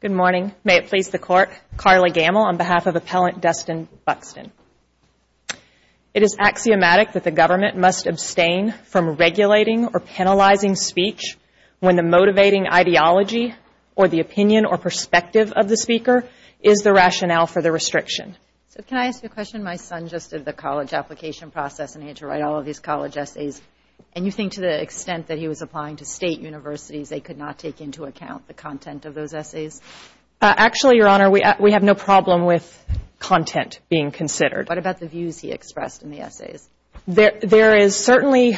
Good morning. May it please the Court, Carly Gammill on behalf of Appellant Dustin Buxton. It is axiomatic that the government must abstain from regulating or penalizing speech when the motivating ideology or the opinion or perspective of the speaker is the rationale for the restriction. So can I ask you a question? My son just did the college application process and he had to write all of these college essays. And you think to the extent that he was applying to state universities, they could not take into account the content of those essays? Actually Your Honor, we have no problem with content being considered. What about the views he expressed in the essays? There is certainly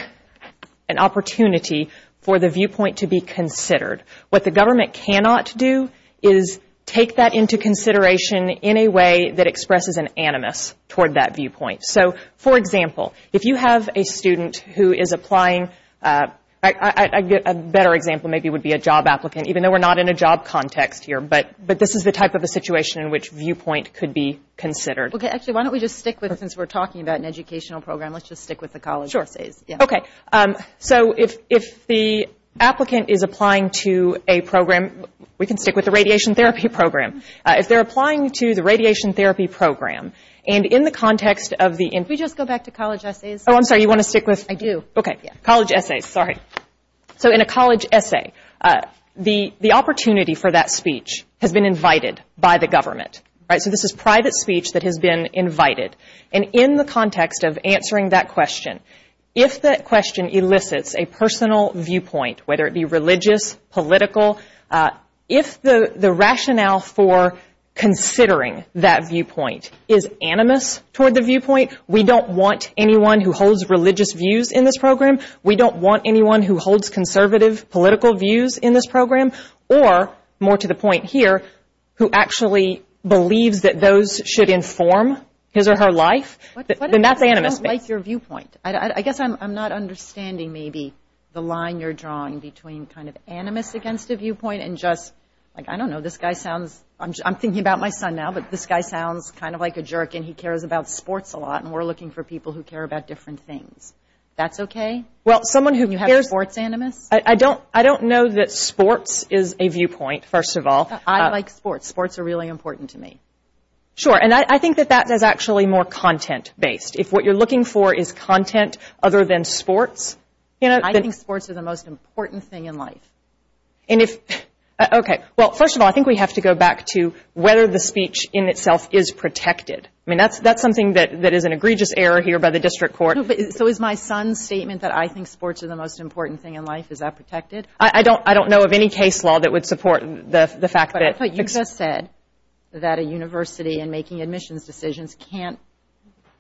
an opportunity for the viewpoint to be considered. What the government cannot do is take that into consideration in a way that expresses an animus toward that viewpoint. So, for example, if you have a student who is applying, a better example maybe would be a job applicant, even though we are not in a job context here, but this is the type of a situation in which viewpoint could be considered. Okay. Actually, why don't we just stick with, since we are talking about an educational program, let's just stick with the college essays. Okay. So if the applicant is applying to a program, we can stick with the radiation therapy program. If they are applying to the radiation therapy program, and in the context of the... Can we just go back to college essays? Oh, I'm sorry. You want to stick with... I do. Okay. College essays. Sorry. So in a college essay, the opportunity for that speech has been invited by the government. So this is private speech that has been invited. And in the context of answering that question, if that question elicits a personal viewpoint, whether it be religious, political, if the rationale for considering that viewpoint is animus toward the viewpoint, we don't want anyone who holds religious views in this program, we don't want anyone who holds conservative political views in this program, or, more to the point here, who actually believes that those should inform his or her life, then that's animus. What if someone doesn't like your viewpoint? I guess I'm not understanding maybe the line you're drawing between kind of animus against a viewpoint and just, like, I don't know, this guy sounds... I'm thinking about my son now, but this guy sounds kind of like a jerk and he cares about sports a lot, and we're looking for people who care about different things. That's okay? Well, someone who cares... Can you have sports animus? I don't know that sports is a viewpoint, first of all. I like sports. Sports are really important to me. Sure, and I think that that is actually more content-based. If what you're looking for is content other than sports... I think sports are the most important thing in life. And if... Okay. Well, first of all, I think we have to go back to whether the speech in itself is protected. I mean, that's something that is an egregious error here by the district court. So is my son's statement that I think sports are the most important thing in life, is that protected? I don't know of any case law that would support the fact that... But you just said that a university in making admissions decisions can't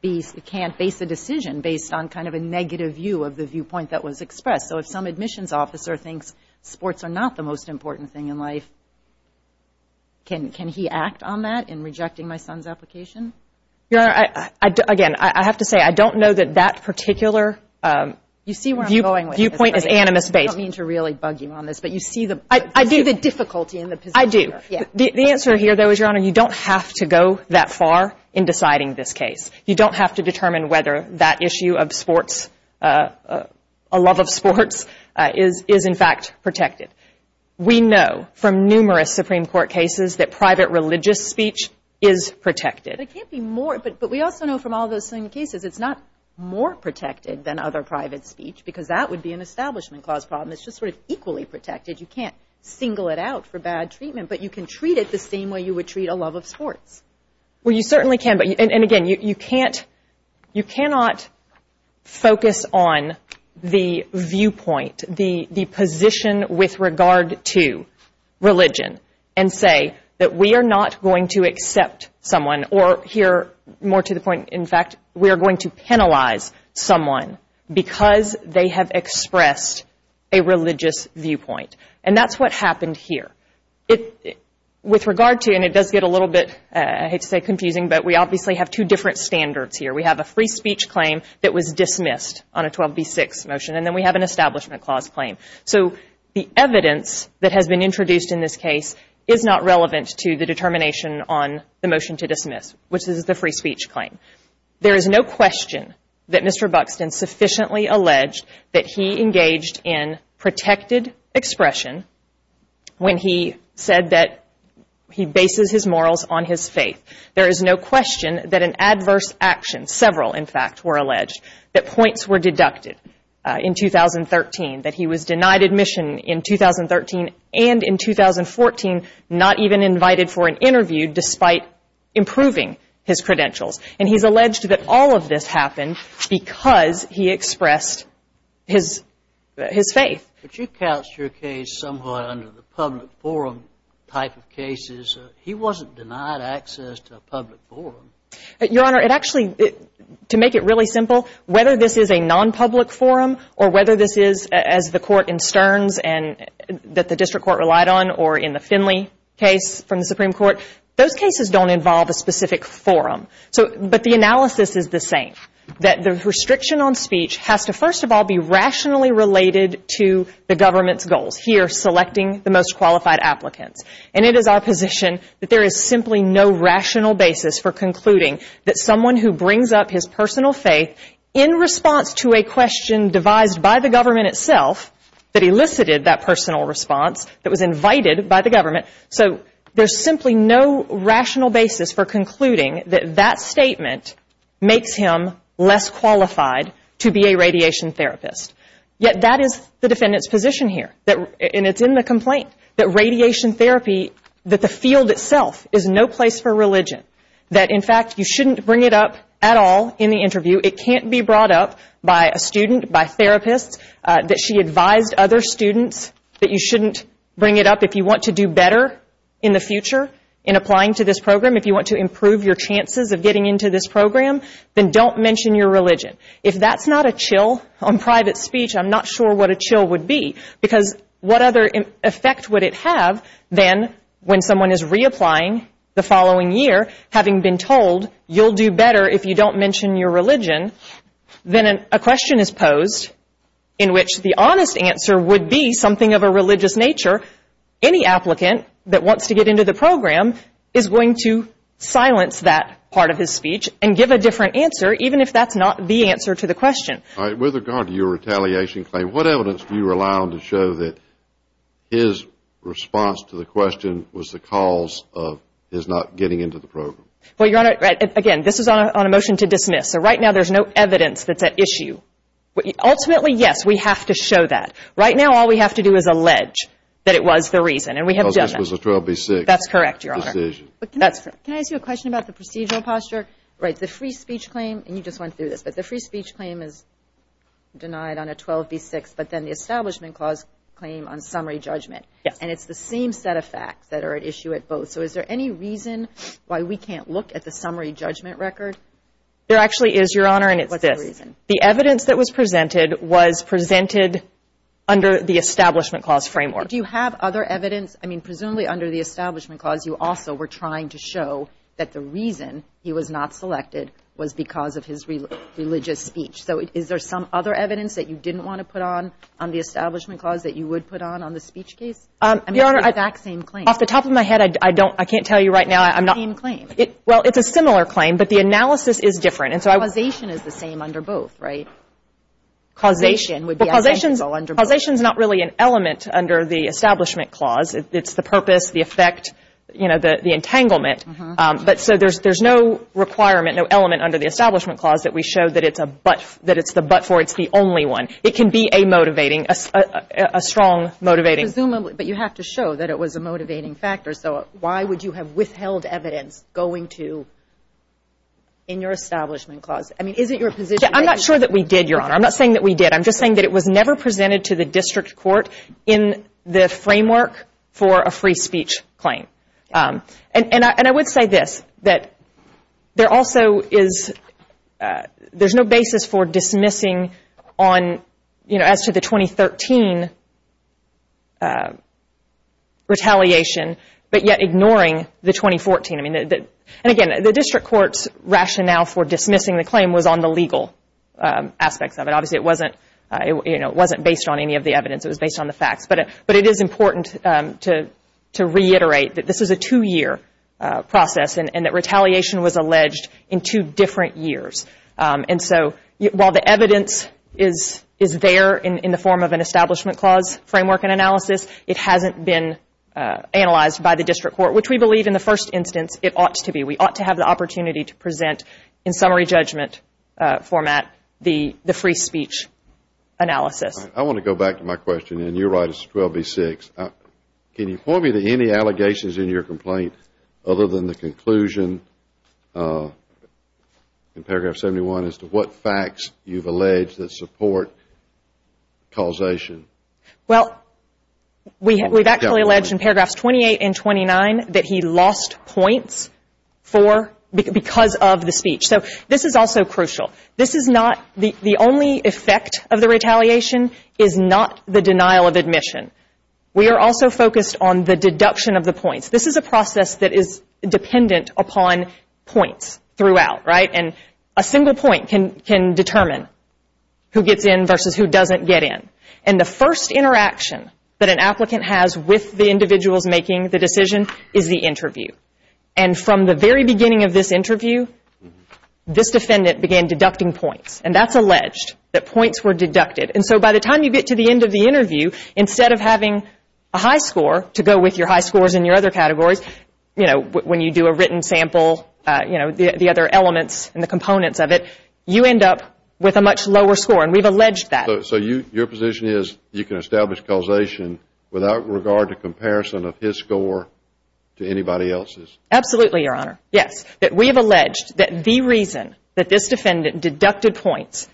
base a decision based on kind of a negative view of the viewpoint that was expressed. So if some admissions officer thinks sports are not the most important thing in life, can he act on that in rejecting my son's application? Your Honor, again, I have to say I don't know that that particular viewpoint is animus based. I don't mean to really bug you on this, but you see the difficulty in the position here. I do. The answer here, though, is, Your Honor, you don't have to go that far in deciding this case. You don't have to determine whether that issue of sports, a love of sports, is in fact protected. We know from numerous Supreme Court cases that private religious speech is protected. But it can't be more. But we also know from all those same cases, it's not more protected than other private speech, because that would be an establishment clause problem. It's just sort of equally protected. You can't single it out for bad treatment, but you can treat it the same way you would treat a love of sports. Well, you certainly can. And again, you cannot focus on the viewpoint, the position with regard to religion, and say that we are not going to accept someone, or here, more to the point, in fact, we are going to penalize someone because they have expressed a religious viewpoint. And that's what happened here. With regard to, and it does get a little bit, I hate to say, confusing, but we obviously have two different standards here. We have a free speech claim that was dismissed on a 12B6 motion, and then we have an establishment clause claim. So the evidence that has been introduced in this case is not relevant to the determination on the motion to dismiss, which is the free speech claim. There is no question that Mr. Buxton sufficiently alleged that he engaged in protected expression when he said that he bases his morals on his faith. There is no question that an adverse action, several, in fact, were alleged, that points were deducted in 2013, that he was denied admission in 2013, and in 2014, not even invited for an interview despite improving his credentials. And he's alleged that all of this happened because he expressed his faith. But you couched your case somewhat under the public forum type of cases. He wasn't denied access to a public forum. Your Honor, it actually, to make it really simple, whether this is a nonpublic forum or whether this is, as the court in Stearns and that the district court relied on or in the Finley case from the Supreme Court, those cases don't involve a specific forum. So, but the analysis is the same, that the restriction on speech has to, first of all, be rationally related to the government's goals, here selecting the most qualified applicants. And it is our rational basis for concluding that someone who brings up his personal faith in response to a question devised by the government itself, that elicited that personal response, that was invited by the government, so there's simply no rational basis for concluding that that statement makes him less qualified to be a radiation therapist. Yet that is the defendant's position here. And it's in the complaint that radiation therapy, that the field itself is no place for religion. That, in fact, you shouldn't bring it up at all in the interview. It can't be brought up by a student, by therapists, that she advised other students that you shouldn't bring it up. If you want to do better in the future in applying to this program, if you want to improve your chances of getting into this program, then don't mention your religion. If that's not a chill on private speech, I'm not sure what a chill would be. Because what other effect would it have than when someone is reapplying the following year, having been told you'll do better if you don't mention your religion, then a question is posed in which the honest answer would be something of a religious nature. Any applicant that wants to get into the program is going to silence that part of his speech and give a different answer, even if that's not the answer to the question. All right. With regard to your retaliation claim, what evidence do you rely on to show that his response to the question was the cause of his not getting into the program? Well, Your Honor, again, this is on a motion to dismiss. So right now, there's no evidence that's at issue. Ultimately, yes, we have to show that. Right now, all we have to do is allege that it was the reason. And we have done that. Because this was a 12B6 decision. That's correct, Your Honor. Can I ask you a question about the procedural posture? Right. The free speech claim, and you just went through this, but the free speech claim is denied on a 12B6, but then the Establishment Clause claim on summary judgment. Yes. And it's the same set of facts that are at issue at both. So is there any reason why we can't look at the summary judgment record? There actually is, Your Honor, and it's this. What's the reason? The evidence that was presented was presented under the Establishment Clause framework. Do you have other evidence? I mean, presumably under the Establishment Clause, you also were trying to show that the reason he was not selected was because of his religious speech. So is there some other evidence that you didn't want to put on on the Establishment Clause that you would put on on the speech case? Your Honor, I I mean, it's the exact same claim. Off the top of my head, I don't, I can't tell you right now, I'm not It's the same claim. Well, it's a similar claim, but the analysis is different. And so I Causation is the same under both, right? Causation would be essential under both. Well, causation is not really an element under the Establishment Clause. It's the purpose, the effect, you know, the entanglement. But so there's no requirement, no element under the Establishment Clause that we show that it's a but, that it's the but for, it's the only one. It can be a motivating, a strong motivating Presumably, but you have to show that it was a motivating factor. So why would you have withheld evidence going to, in your Establishment Clause? I mean, is it your position I'm not sure that we did, Your Honor. I'm not saying that we did. I'm just saying that it was never presented to the District Court in the framework for a free speech claim. And I would say this, that there also is, there's no basis for dismissing on, you know, as to the 2013 retaliation, but yet ignoring the 2014. I mean, and again, the District Court's rationale for dismissing the claim was on the legal aspects of it. Obviously, it wasn't, you know, it wasn't based on any of the evidence. It was based on the facts. But it is important to reiterate that this is a two-year process and that retaliation was alleged in two different years. And so while the evidence is there in the form of an Establishment Clause framework and analysis, it hasn't been analyzed by the District Court, which we believe in the first instance it ought to be. We ought to have the opportunity to present in summary judgment format the free speech analysis. I want to go back to my question, and you're right, it's 12B6. Can you point me to any allegations in your complaint other than the conclusion in paragraph 71 as to what facts you've alleged that support causation? Well, we've actually alleged in paragraphs 28 and 29 that he lost points for, because of the speech. So this is also crucial. This is not, the only effect of the retaliation is not the denial of admission. We are also focused on the deduction of the points. This is a process that is dependent upon points throughout, right? And a single point can determine who gets in versus who doesn't get in. And the first interaction that an applicant has with the individuals making the decision is the interview. And from the very beginning of this interview, this defendant began deducting points. And that's alleged, that points were deducted. And so by the time you get to the end of the interview, instead of having a high score to go with your high scores in your other categories, you know, when you do a written sample, you know, the other elements and the components of it, you end up with a much lower score. And we've alleged that. So your position is you can establish causation without regard to comparison of his score to anybody else's? Absolutely, Your Honor. Yes. That we have alleged that the reason that this defendant deducted points,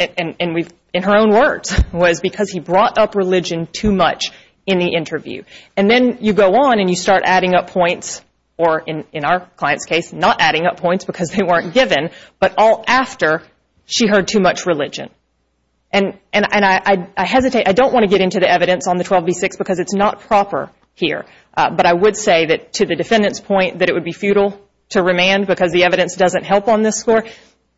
and we've, in her own words, was because he brought up religion too much in the interview. And then you go on and you start adding up points, or in our client's case, not adding up points because they weren't given, but all after she heard too much religion. And I hesitate, I don't want to get into the evidence on the 12B6 because it's not proper here. But I would say that to the defendant's point that it would be futile to remand because the evidence doesn't help on this score,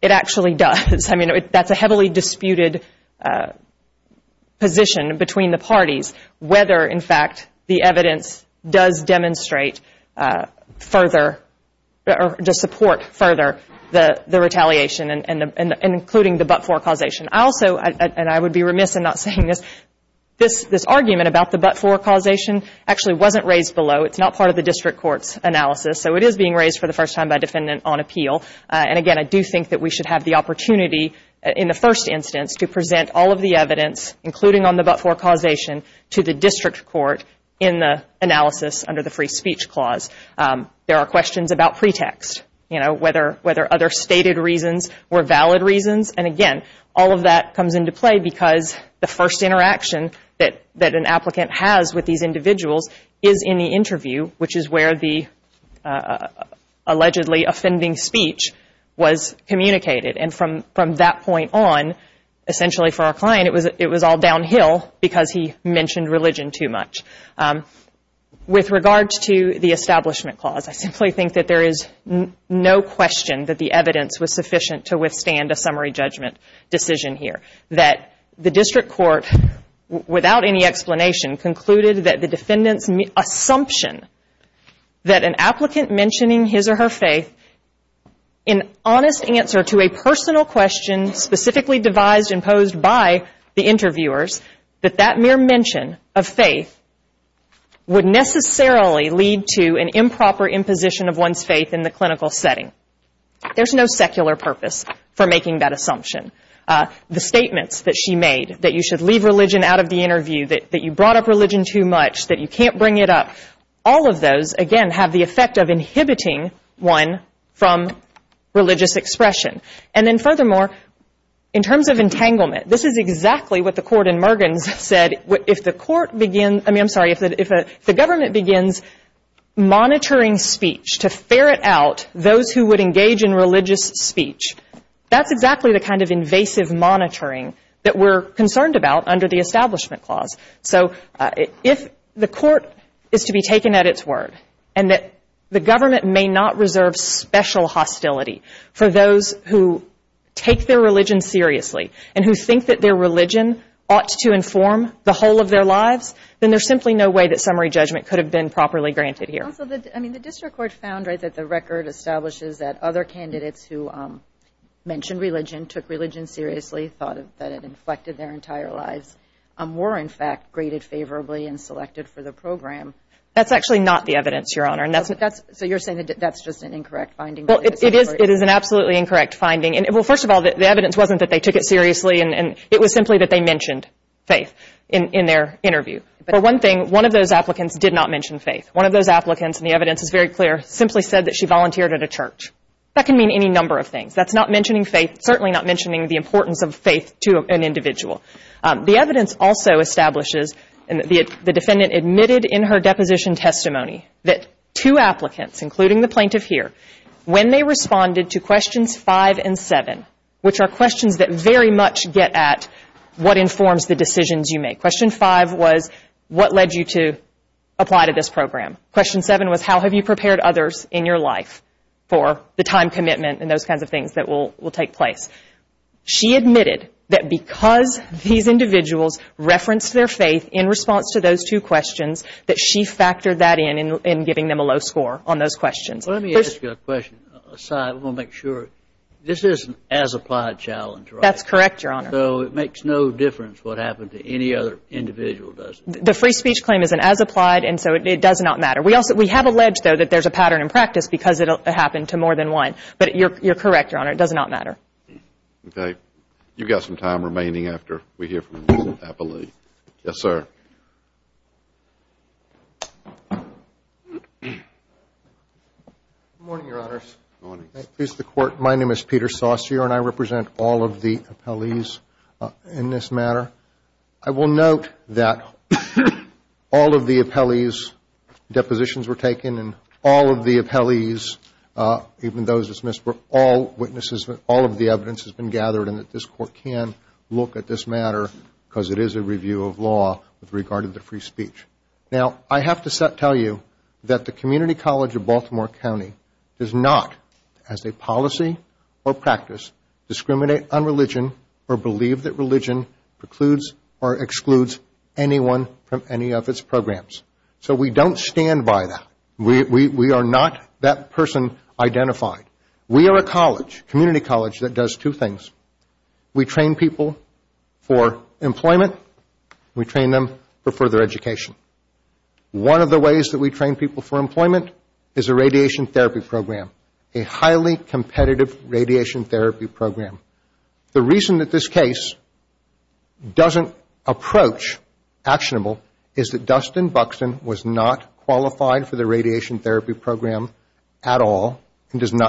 it actually does. I mean, that's a heavily disputed position between the parties, whether, in fact, the evidence does demonstrate further or just support further the retaliation and including the but-for causation. I also, and I would be remiss in not saying this, this argument about the but-for causation actually wasn't raised below. It's not part of the District Court's analysis. So it is being raised for the first time by a defendant on appeal. And again, I do think that we should have the opportunity in the first instance to present all of the evidence, including on the but-for causation, to the District Court in the analysis under the Free Speech Clause. There are questions about pretext, you know, whether other stated reasons were used. All of that comes into play because the first interaction that an applicant has with these individuals is in the interview, which is where the allegedly offending speech was communicated. And from that point on, essentially for our client, it was all downhill because he mentioned religion too much. With regards to the Establishment Clause, I simply think that there is no question that the evidence was sufficient to withstand a summary judgment decision here, that the District Court, without any explanation, concluded that the defendant's assumption that an applicant mentioning his or her faith, in honest answer to a personal question specifically devised and posed by the interviewers, that that mere mention of faith would necessarily lead to an improper imposition of one's faith in the clinical setting. There is no secular purpose for making that assumption. The statements that she made, that you should leave religion out of the interview, that you brought up religion too much, that you can't bring it up, all of those, again, have the effect of inhibiting one from religious expression. And then furthermore, in terms of entanglement, this is exactly what the Court in Mergens said. If the government begins monitoring speech to ferret out those who would engage in religious speech, that's exactly the kind of invasive monitoring that we're concerned about under the Establishment Clause. So if the Court is to be taken at its word and that the government may not reserve special hostility for those who take their religion seriously and who think that their religion ought to inform the whole of their lives, then there's simply no way that summary judgment could have been properly granted here. Also, I mean, the District Court found, right, that the record establishes that other candidates who mentioned religion, took religion seriously, thought that it inflected their entire lives, were in fact graded favorably and selected for the program. That's actually not the evidence, Your Honor. So you're saying that that's just an incorrect finding? Well, it is an absolutely incorrect finding. Well, first of all, the evidence wasn't that they mentioned faith in their interview. For one thing, one of those applicants did not mention faith. One of those applicants, and the evidence is very clear, simply said that she volunteered at a church. That can mean any number of things. That's not mentioning faith, certainly not mentioning the importance of faith to an individual. The evidence also establishes, and the defendant admitted in her deposition testimony, that two applicants, including the plaintiff here, when they responded to questions 5 and 7, which are questions that very much get at what informs the decisions you make. Question 5 was, what led you to apply to this program? Question 7 was, how have you prepared others in your life for the time commitment and those kinds of things that will take place? She admitted that because these individuals referenced their faith in response to those two questions, that she factored that in, in giving them a low score on those questions. Let me ask you a question. I want to make sure. This is an as-applied challenge, right? That's correct, Your Honor. So it makes no difference what happened to any other individual, does it? The free speech claim is an as-applied, and so it does not matter. We have alleged, though, that there's a pattern in practice because it will happen to more than one. But you're correct, Your Honor. It does not matter. Okay. You've got some time remaining after we hear from Mr. Appley. Yes, sir. Good morning, Your Honors. Good morning. My name is Peter Saucier, and I represent all of the appellees in this matter. I will note that all of the appellees' depositions were taken, and all of the appellees, even those dismissed, were all witnesses. All of the evidence has been gathered, and that this Court can look at this matter because it is a review of law with regard to the free speech. Now, I have to tell you that the Community College of Baltimore County does not, as a policy or practice, discriminate on religion or believe that religion precludes or excludes anyone from any of its programs. So we don't stand by that. We are not that person identified. We are a college, community college, that does two things. We train people for employment. We train them for further education. One of the ways that we train people for employment is a radiation therapy program, a highly competitive radiation therapy program. The reason that this case doesn't approach actionable is that it doesn't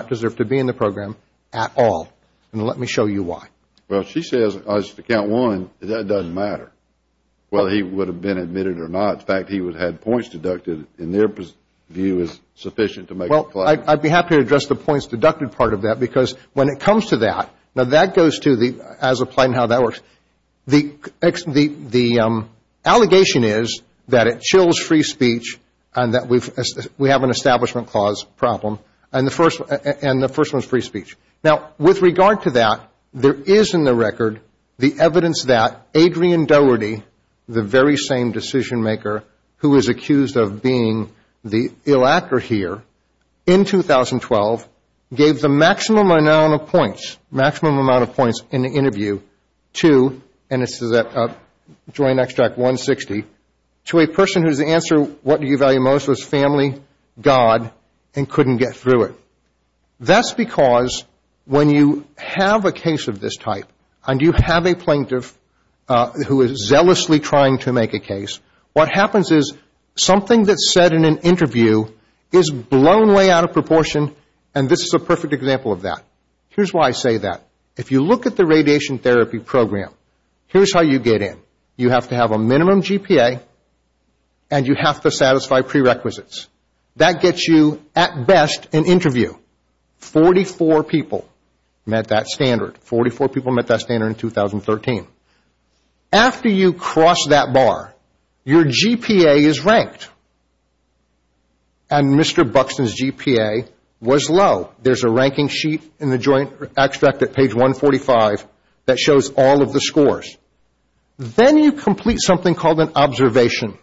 deserve to be in the program at all, and let me show you why. Well, she says, as to count one, that doesn't matter whether he would have been admitted or not. In fact, he would have had points deducted, and their view is sufficient to make a claim. Well, I would be happy to address the points deducted part of that because when it comes to that, now that goes to the, as applied and how that works, the allegation is that it chills free speech and that we have an Establishment Clause problem, and the first one is free speech. Now, with regard to that, there is in the record the evidence that Adrian Dougherty, the very same decision maker who is accused of being the ill actor here, in 2012, gave the maximum amount of points in the interview to, and this is at Joint Extract 160, to a person whose answer, what do you value most, was family, God, and couldn't get through it. That's because when you have a case of this type, and you have a plaintiff who is zealously trying to make a case, what happens is something that's said in an interview is blown way out of proportion, and this is a perfect example of that. Here's why I say that. If you look at the radiation therapy program, here's how you get in. You have to have a minimum GPA, and you have to satisfy prerequisites. That gets you, at best, an interview. Forty-four people met that standard. Forty-four people met that standard in 2013. After you cross that bar, your GPA is ranked, and Mr. Buxton's GPA was low. There's a ranking sheet in the Joint Extract at page 145 that shows all of the scores. Then you complete something called an observation.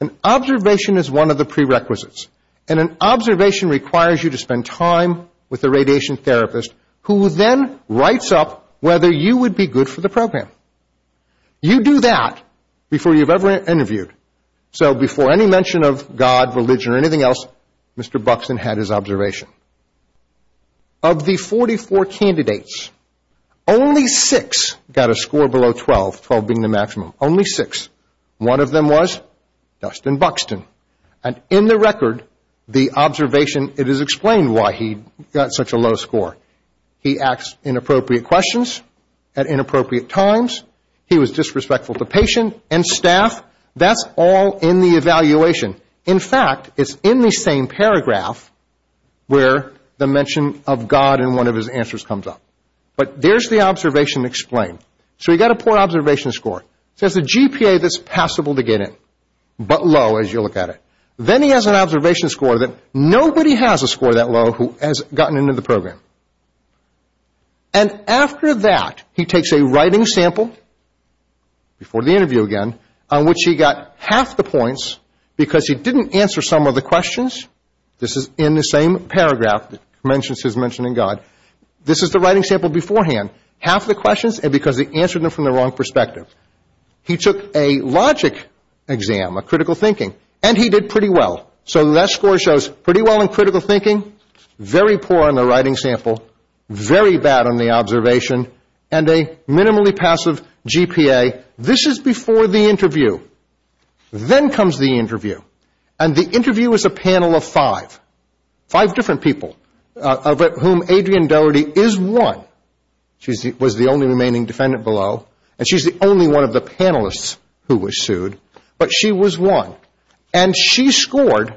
An observation is one of the prerequisites, and an observation requires you to spend time with a radiation therapist who then writes up whether you would be good for the program. You do that before you've ever interviewed. So before any mention of God, religion, or anything else, Mr. Buxton had his observation. Of the 44 candidates, only six got a score below 12, 12 being the maximum. Only six. One of them was Dustin Buxton. In the record, the observation, it is explained why he got such a low score. He asked inappropriate questions at inappropriate times. He was disrespectful to patient and staff. That's all in the evaluation. In fact, it's in the same paragraph where the mention of God in one of his answers comes up. But there's the observation explained. So he got a poor observation score. He has a GPA that's passable to get in, but low as you look at it. Then he has an observation score that nobody has a score that low who has gotten into the program. And after that, he takes a writing sample, before the interview again, on which he got half the points because he didn't answer some of the questions. This is in the same paragraph that mentions his mention of God. This is the writing sample beforehand. Half the questions because he answered them from the wrong perspective. He took a logic exam, a critical thinking, and he did pretty well. So that score shows pretty well in critical thinking, very poor in the writing sample, very bad on the observation, and a minimally passive GPA. This is before the interview. Then comes the interview. And the interview is a panel of five. Five different people of whom Adrienne Doherty is one. She was the only remaining defendant below, and she's the only one of the panelists who was sued, but she was one. And she scored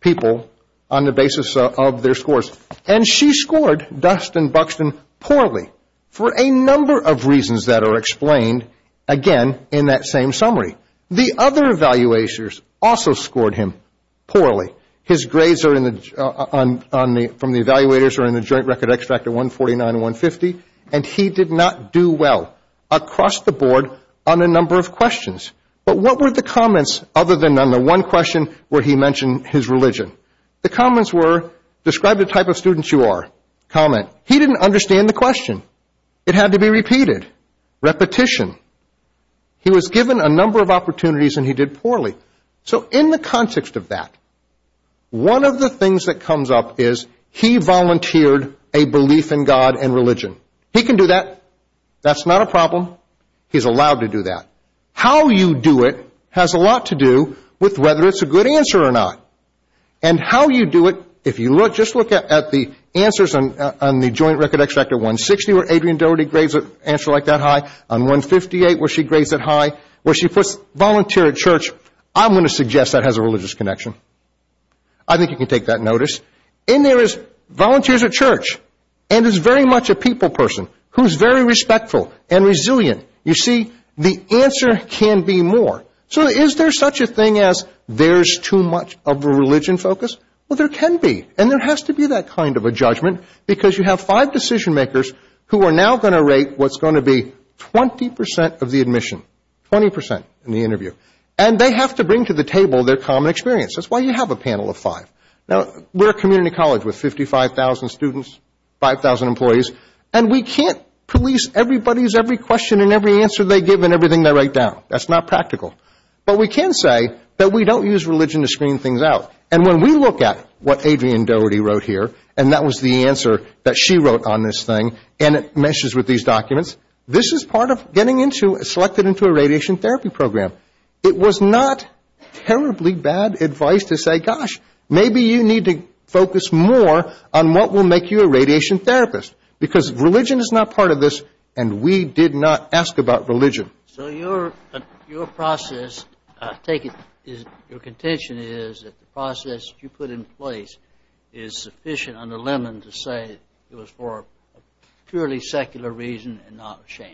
people on the basis of their scores. And she scored Dustin Buxton poorly for a number of reasons that are explained, again, in that same summary. The other evaluators also scored him poorly. His grades from the evaluators are in the joint record extract at 149 and 150, and he did not do well across the board on a number of questions. But what were the comments other than on the one question where he mentioned his religion? The comments were, describe the type of student you are. Comment, he didn't understand the question. It had to be repeated. Repetition. He was given a number of opportunities, and he did poorly. So in the context of that, one of the things that comes up is he volunteered a belief in God and religion. He can do that. That's not a problem. He's allowed to do that. How you do it has a lot to do with whether it's a good answer or not. And how you do it, if you look, just look at the answers on the joint record extract at 160 where Adrienne Doherty grades an answer like that high, on 158 where she grades it high, where she puts volunteer at church, I'm going to suggest that has a religious connection. I think you can take that notice. In there is volunteers at church, and it's very much a people person who's very respectful and resilient. You see, the answer can be more. So is there such a thing as there's too much of a religion focus? Well, there can be. And there has to be that kind of a judgment because you have five decision makers who are now going to rate what's going to be 20% of the admission, 20% in the interview. And they have to bring to the table their common experience. That's why you have a panel of five. Now, we're a community college with 55,000 students, 5,000 employees, and we can't police everybody's every question and every answer they give and everything they write down. That's not practical. But we can say that we don't use religion to screen things out. And when we look at what Adrienne Doherty wrote here, and that was the answer that she wrote on this thing, and it meshes with these documents, this is part of getting into, selected into a radiation therapy program. It was not terribly bad advice to say, gosh, maybe you need to focus more on what will make you a radiation therapist. Because religion is not part of this, and we did not ask about religion. So your process, your contention is that the process you put in place is sufficient under Lemon to say it was for a purely secular reason and not a sham.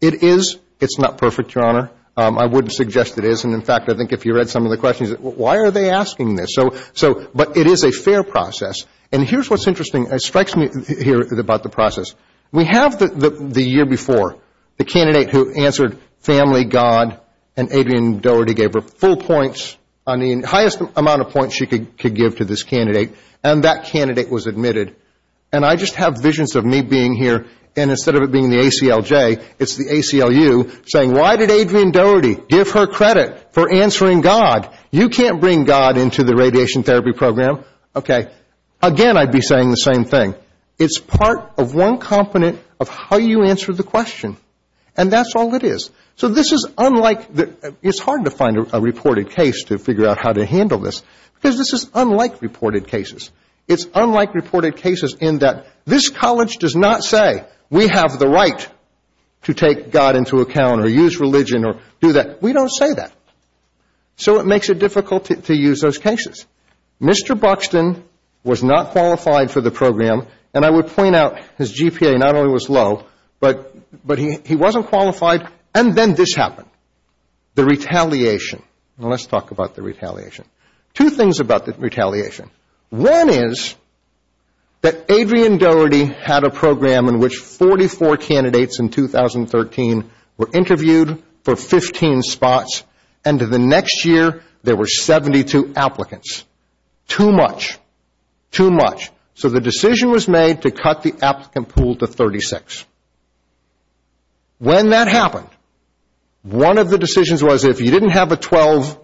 It is. It's not perfect, Your Honor. I wouldn't suggest it is. And in fact, I think if you read some of the questions, why are they asking this? But it is a fair process. And here's what's interesting. It strikes me here about the process. We have the year before, the candidate who answered family, God, and Adrienne Doherty gave her full points on the highest amount of points she could give to this candidate. And that candidate was admitted. And I just have visions of me being here, and instead of it being the ACLJ, it's the ACLU saying, why did Adrienne Doherty give her credit for answering God? You can't bring God into the radiation therapy program. Okay. Again, I'd be saying the same thing. It's part of one component of how you answer the question. And that's all it is. So this is unlike, it's hard to find a reported case to figure out how to handle this. Because this is unlike reported cases. It's unlike reported cases in that this college does not say we have the right to take God into account or use religion or do that. We don't say that. So it makes it difficult to use those cases. Mr. Buxton was not qualified for the program, and I would point out his GPA not only was low, but he wasn't qualified, and then this happened, the retaliation. Let's talk about the retaliation. Two things about the retaliation. One is that Adrienne Doherty had a program in which 44 candidates in 2013 were interviewed for 15 spots, and the next year there were 72 applicants. Too much. Too much. So the decision was made to cut the applicant pool to 36. When that happened, one of the decisions was if you didn't have a 12,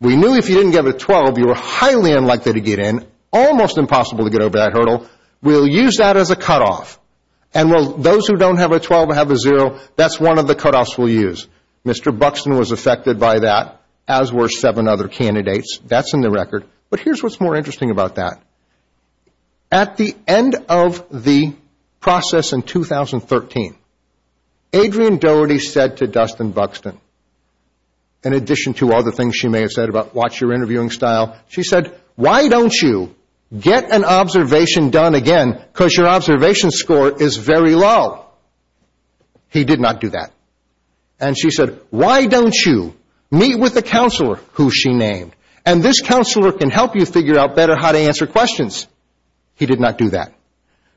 we knew if you didn't get a 12, you were highly unlikely to get in, almost impossible to get over that hurdle. We'll use that as a cutoff. And those who don't have a 12 and have a zero, that's one of the cutoffs we'll use. Mr. Buxton was affected by that, as were seven other candidates. That's in the record. But here's what's more interesting about that. At the end of the process in 2013, Adrienne Doherty said to Dustin Buxton, in addition to other things she may have said about watch your interviewing style, she said, why don't you get an observation done again because your observation score is very low? He did not do that. And she said, why don't you meet with the counselor who she named? And this counselor can help you figure out better how to answer questions. He did not do that.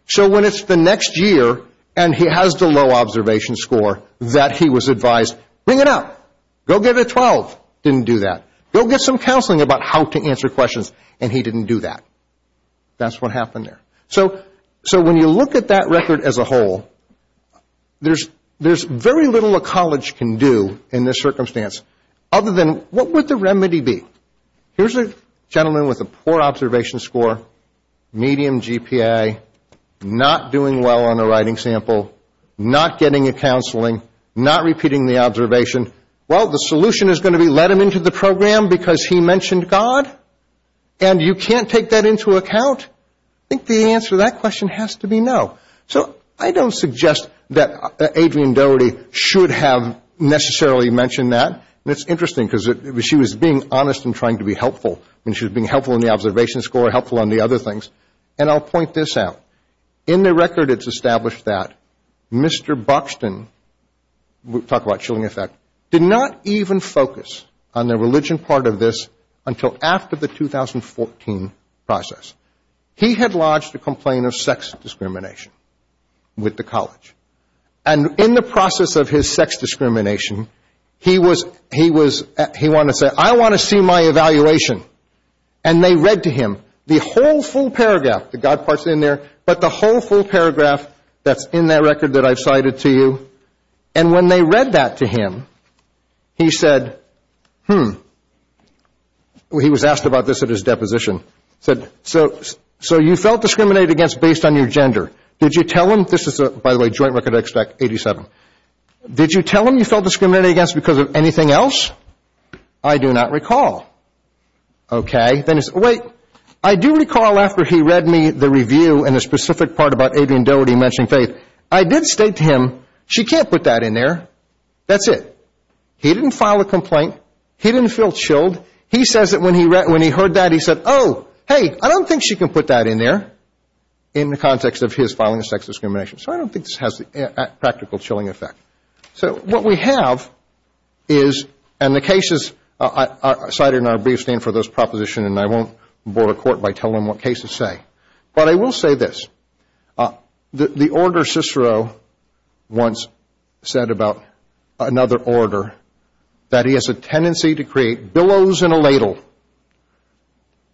So when it's the next year and he has the low observation score that he was advised, bring it up. Go get a 12. Didn't do that. Go get some counseling about how to answer questions. And he didn't do that. That's what happened there. So when you look at that record as a whole, there's very little a college can do in this circumstance, other than what would the remedy be? Here's a gentleman with a poor observation score, medium GPA, not doing well on a writing sample, not getting a counseling, not repeating the observation. Well, the solution is going to be let him into the program because he mentioned God? And you can't take that into account? I think the answer to that question has to be no. So I don't suggest that Adrienne Doherty should have necessarily mentioned that. And it's interesting because she was being honest and trying to be helpful. I mean, she was being helpful in the observation score, helpful on the other things. And I'll point this out. In the record, it's established that Mr. Buxton, we'll talk about chilling effect, did not even focus on the religion part of this until after the 2014 process. He had lodged a complaint of sex discrimination with the college. And in the process of his sex discrimination, he wanted to say, I want to see my evaluation. And they read to him the whole full paragraph, the God part's in there, but the whole full paragraph that's in that record that I've cited to you. And when they read that to him, he said, hmm, he was asked about this at his deposition, said, so you felt discriminated against based on your gender. Did you tell him, this is a, by the way, joint record I expect, 87. Did you tell him you felt discriminated against because of anything else? I do not recall. Okay. Then he said, wait, I do recall after he read me the review and the specific part about Adrienne Doherty mentioning faith. I did state to him, she can't put that in there. That's it. He didn't file a complaint. He didn't feel chilled. He says that when he heard that, he said, oh, hey, I don't think she can put that in there in the context of his filing of sex discrimination. So I don't think this has the practical chilling effect. So what we have is, and the cases cited in our brief stand for those propositions, and I won't board a court by telling them what cases say, but I will say this. The Order Cicero once said about another order that he has a tendency to create billows in a ladle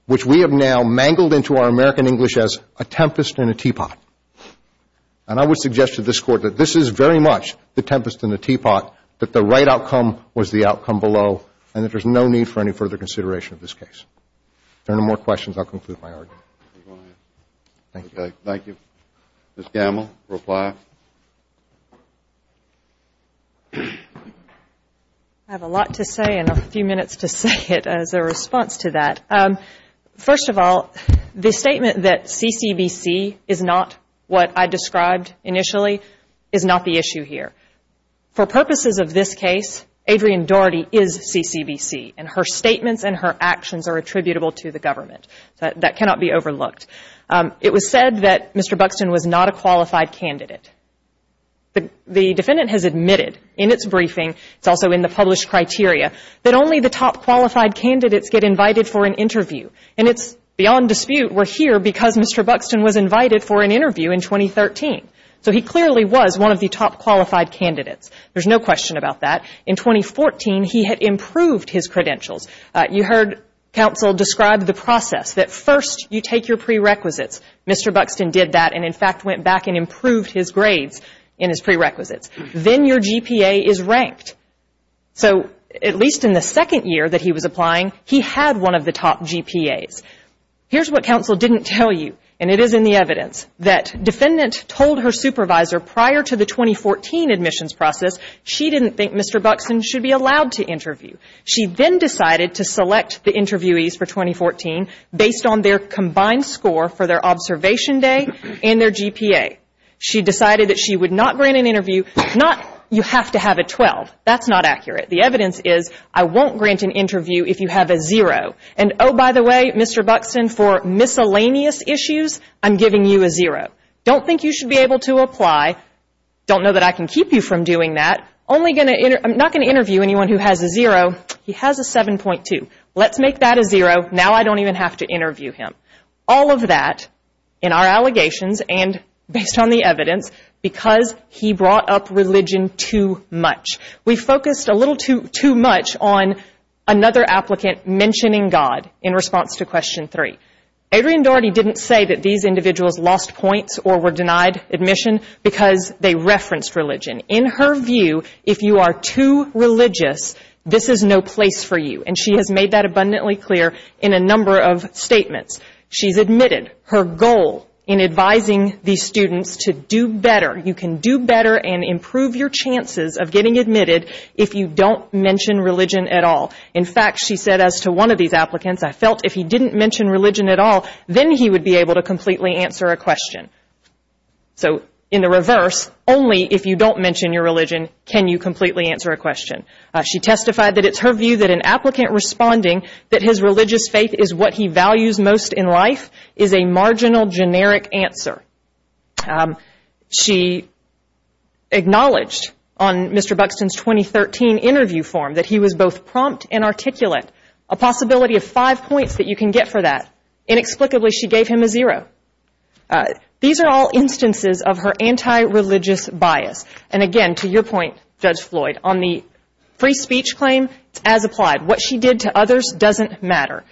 which we have now mangled into our American English as a tempest in a teapot. And I would suggest to this Court that this is very much the tempest in the teapot, that the right outcome was the outcome below, and that there's no need for any further consideration of this case. If there are no more questions, I'll conclude my argument. Thank you. Okay. Thank you. Ms. Gamble, reply. I have a lot to say and a few minutes to say it as a response to that. First of all, the statement that CCBC is not what I described initially is not the issue here. For purposes of this case, Adrienne Doherty is CCBC, and her statements and her actions are attributable to the government. That cannot be overlooked. It was said that Mr. Buxton was not a qualified candidate. The defendant has admitted in its briefing, it's also in the published criteria, that only the top qualified candidates get invited for an interview. And it's beyond dispute we're here because Mr. Buxton was invited for an interview in 2013. So he clearly was one of the top qualified candidates. There's no question about that. In 2014, he had improved his credentials. You heard counsel describe the process that first you take your prerequisites. Mr. Buxton did that and, in fact, went back and improved his grades in his prerequisites. Then your GPA is ranked. So at least in the second year that he was applying, he had one of the top GPAs. Here's what counsel didn't tell you, and it is in the evidence, that defendant told her supervisor prior to the 2014 admissions process, she didn't think Mr. Buxton should be allowed to interview. She then decided to select the interviewees for 2014 based on their combined score for their observation day and their GPA. She decided that she would not grant an interview. Not you have to have a 12. That's not accurate. The evidence is I won't grant an interview if you have a zero. And, oh, by the way, Mr. Buxton, for miscellaneous issues, I'm giving you a zero. Don't think you should be able to apply. Don't know that I can keep you from doing that. I'm not going to interview anyone who has a zero. He has a 7.2. Let's make that a zero. Now I don't even have to interview him. All of that, in our allegations and based on the evidence, because he brought up religion too much. We focused a little too much on another applicant mentioning God in response to question three. Adrienne Doherty didn't say that these individuals lost points or were denied admission because they referenced religion. In her view, if you are too religious, this is no place for you. And she has made that abundantly clear in a number of statements. She's admitted her goal in advising these students to do better. You can do better and improve your chances of getting admitted if you don't mention religion at all. In fact, she said as to one of these applicants, I felt if he didn't mention religion at all, then he would be able to completely answer a question. So in the reverse, only if you don't mention your religion can you completely answer a question. She testified that it's her view that an applicant responding that his religious faith is what he values most in life is a marginal generic answer. She acknowledged on Mr. Buxton's 2013 interview form that he was both prompt and articulate. A possibility of five points that you can get for that. Inexplicably, she gave him a free speech claim, as applied. What she did to others doesn't matter.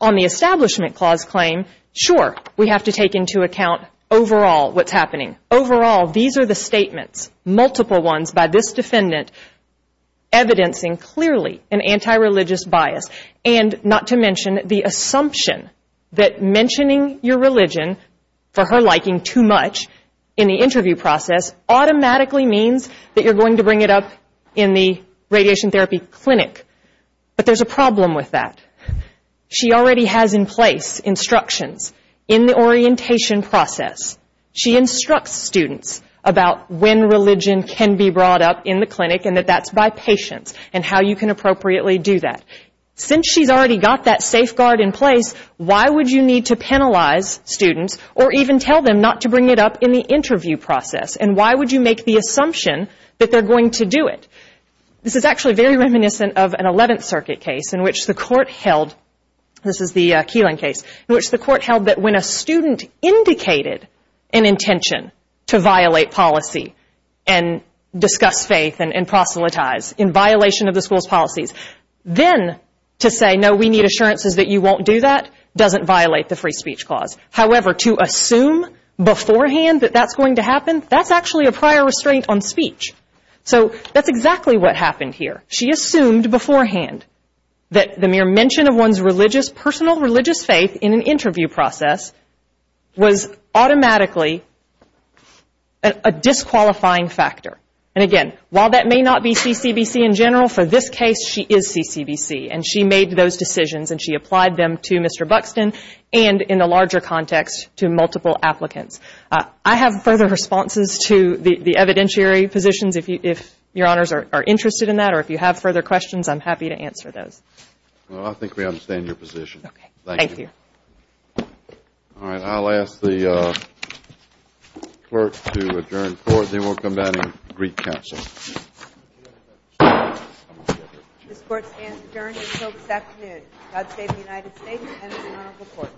On the establishment clause claim, sure, we have to take into account overall what's happening. Overall, these are the statements, multiple ones by this defendant, evidencing clearly an anti-religious bias. And not to mention the assumption that mentioning your religion for her liking too much in the interview process is going to bring it up in the radiation therapy clinic. But there's a problem with that. She already has in place instructions in the orientation process. She instructs students about when religion can be brought up in the clinic and that that's by patients and how you can appropriately do that. Since she's already got that safeguard in place, why would you need to penalize students or even tell them not to bring it up in the clinic? Why would you need to do it? This is actually very reminiscent of an 11th Circuit case in which the court held, this is the Keelan case, in which the court held that when a student indicated an intention to violate policy and discuss faith and proselytize in violation of the school's policies, then to say, no, we need assurances that you won't do that, doesn't violate the free speech clause. However, to assume beforehand that that's going to happen, that's actually a prior restraint on speech. So that's exactly what happened here. She assumed beforehand that the mere mention of one's personal religious faith in an interview process was automatically a disqualifying factor. And again, while that may not be CCBC in general, for this case she is CCBC and she made those decisions and she applied them to Mr. Buxton and, in a larger context, to multiple applicants. I have further responses to the evidentiary positions. If Your Honors are interested in that or if you have further questions, I'm happy to answer those. Well, I think we understand your position. Thank you. Okay. Thank you. All right. I'll ask the clerk to adjourn the court. Then we'll come back to the Greek This Court stands adjourned until this afternoon. God save the United States and its Honorable Court.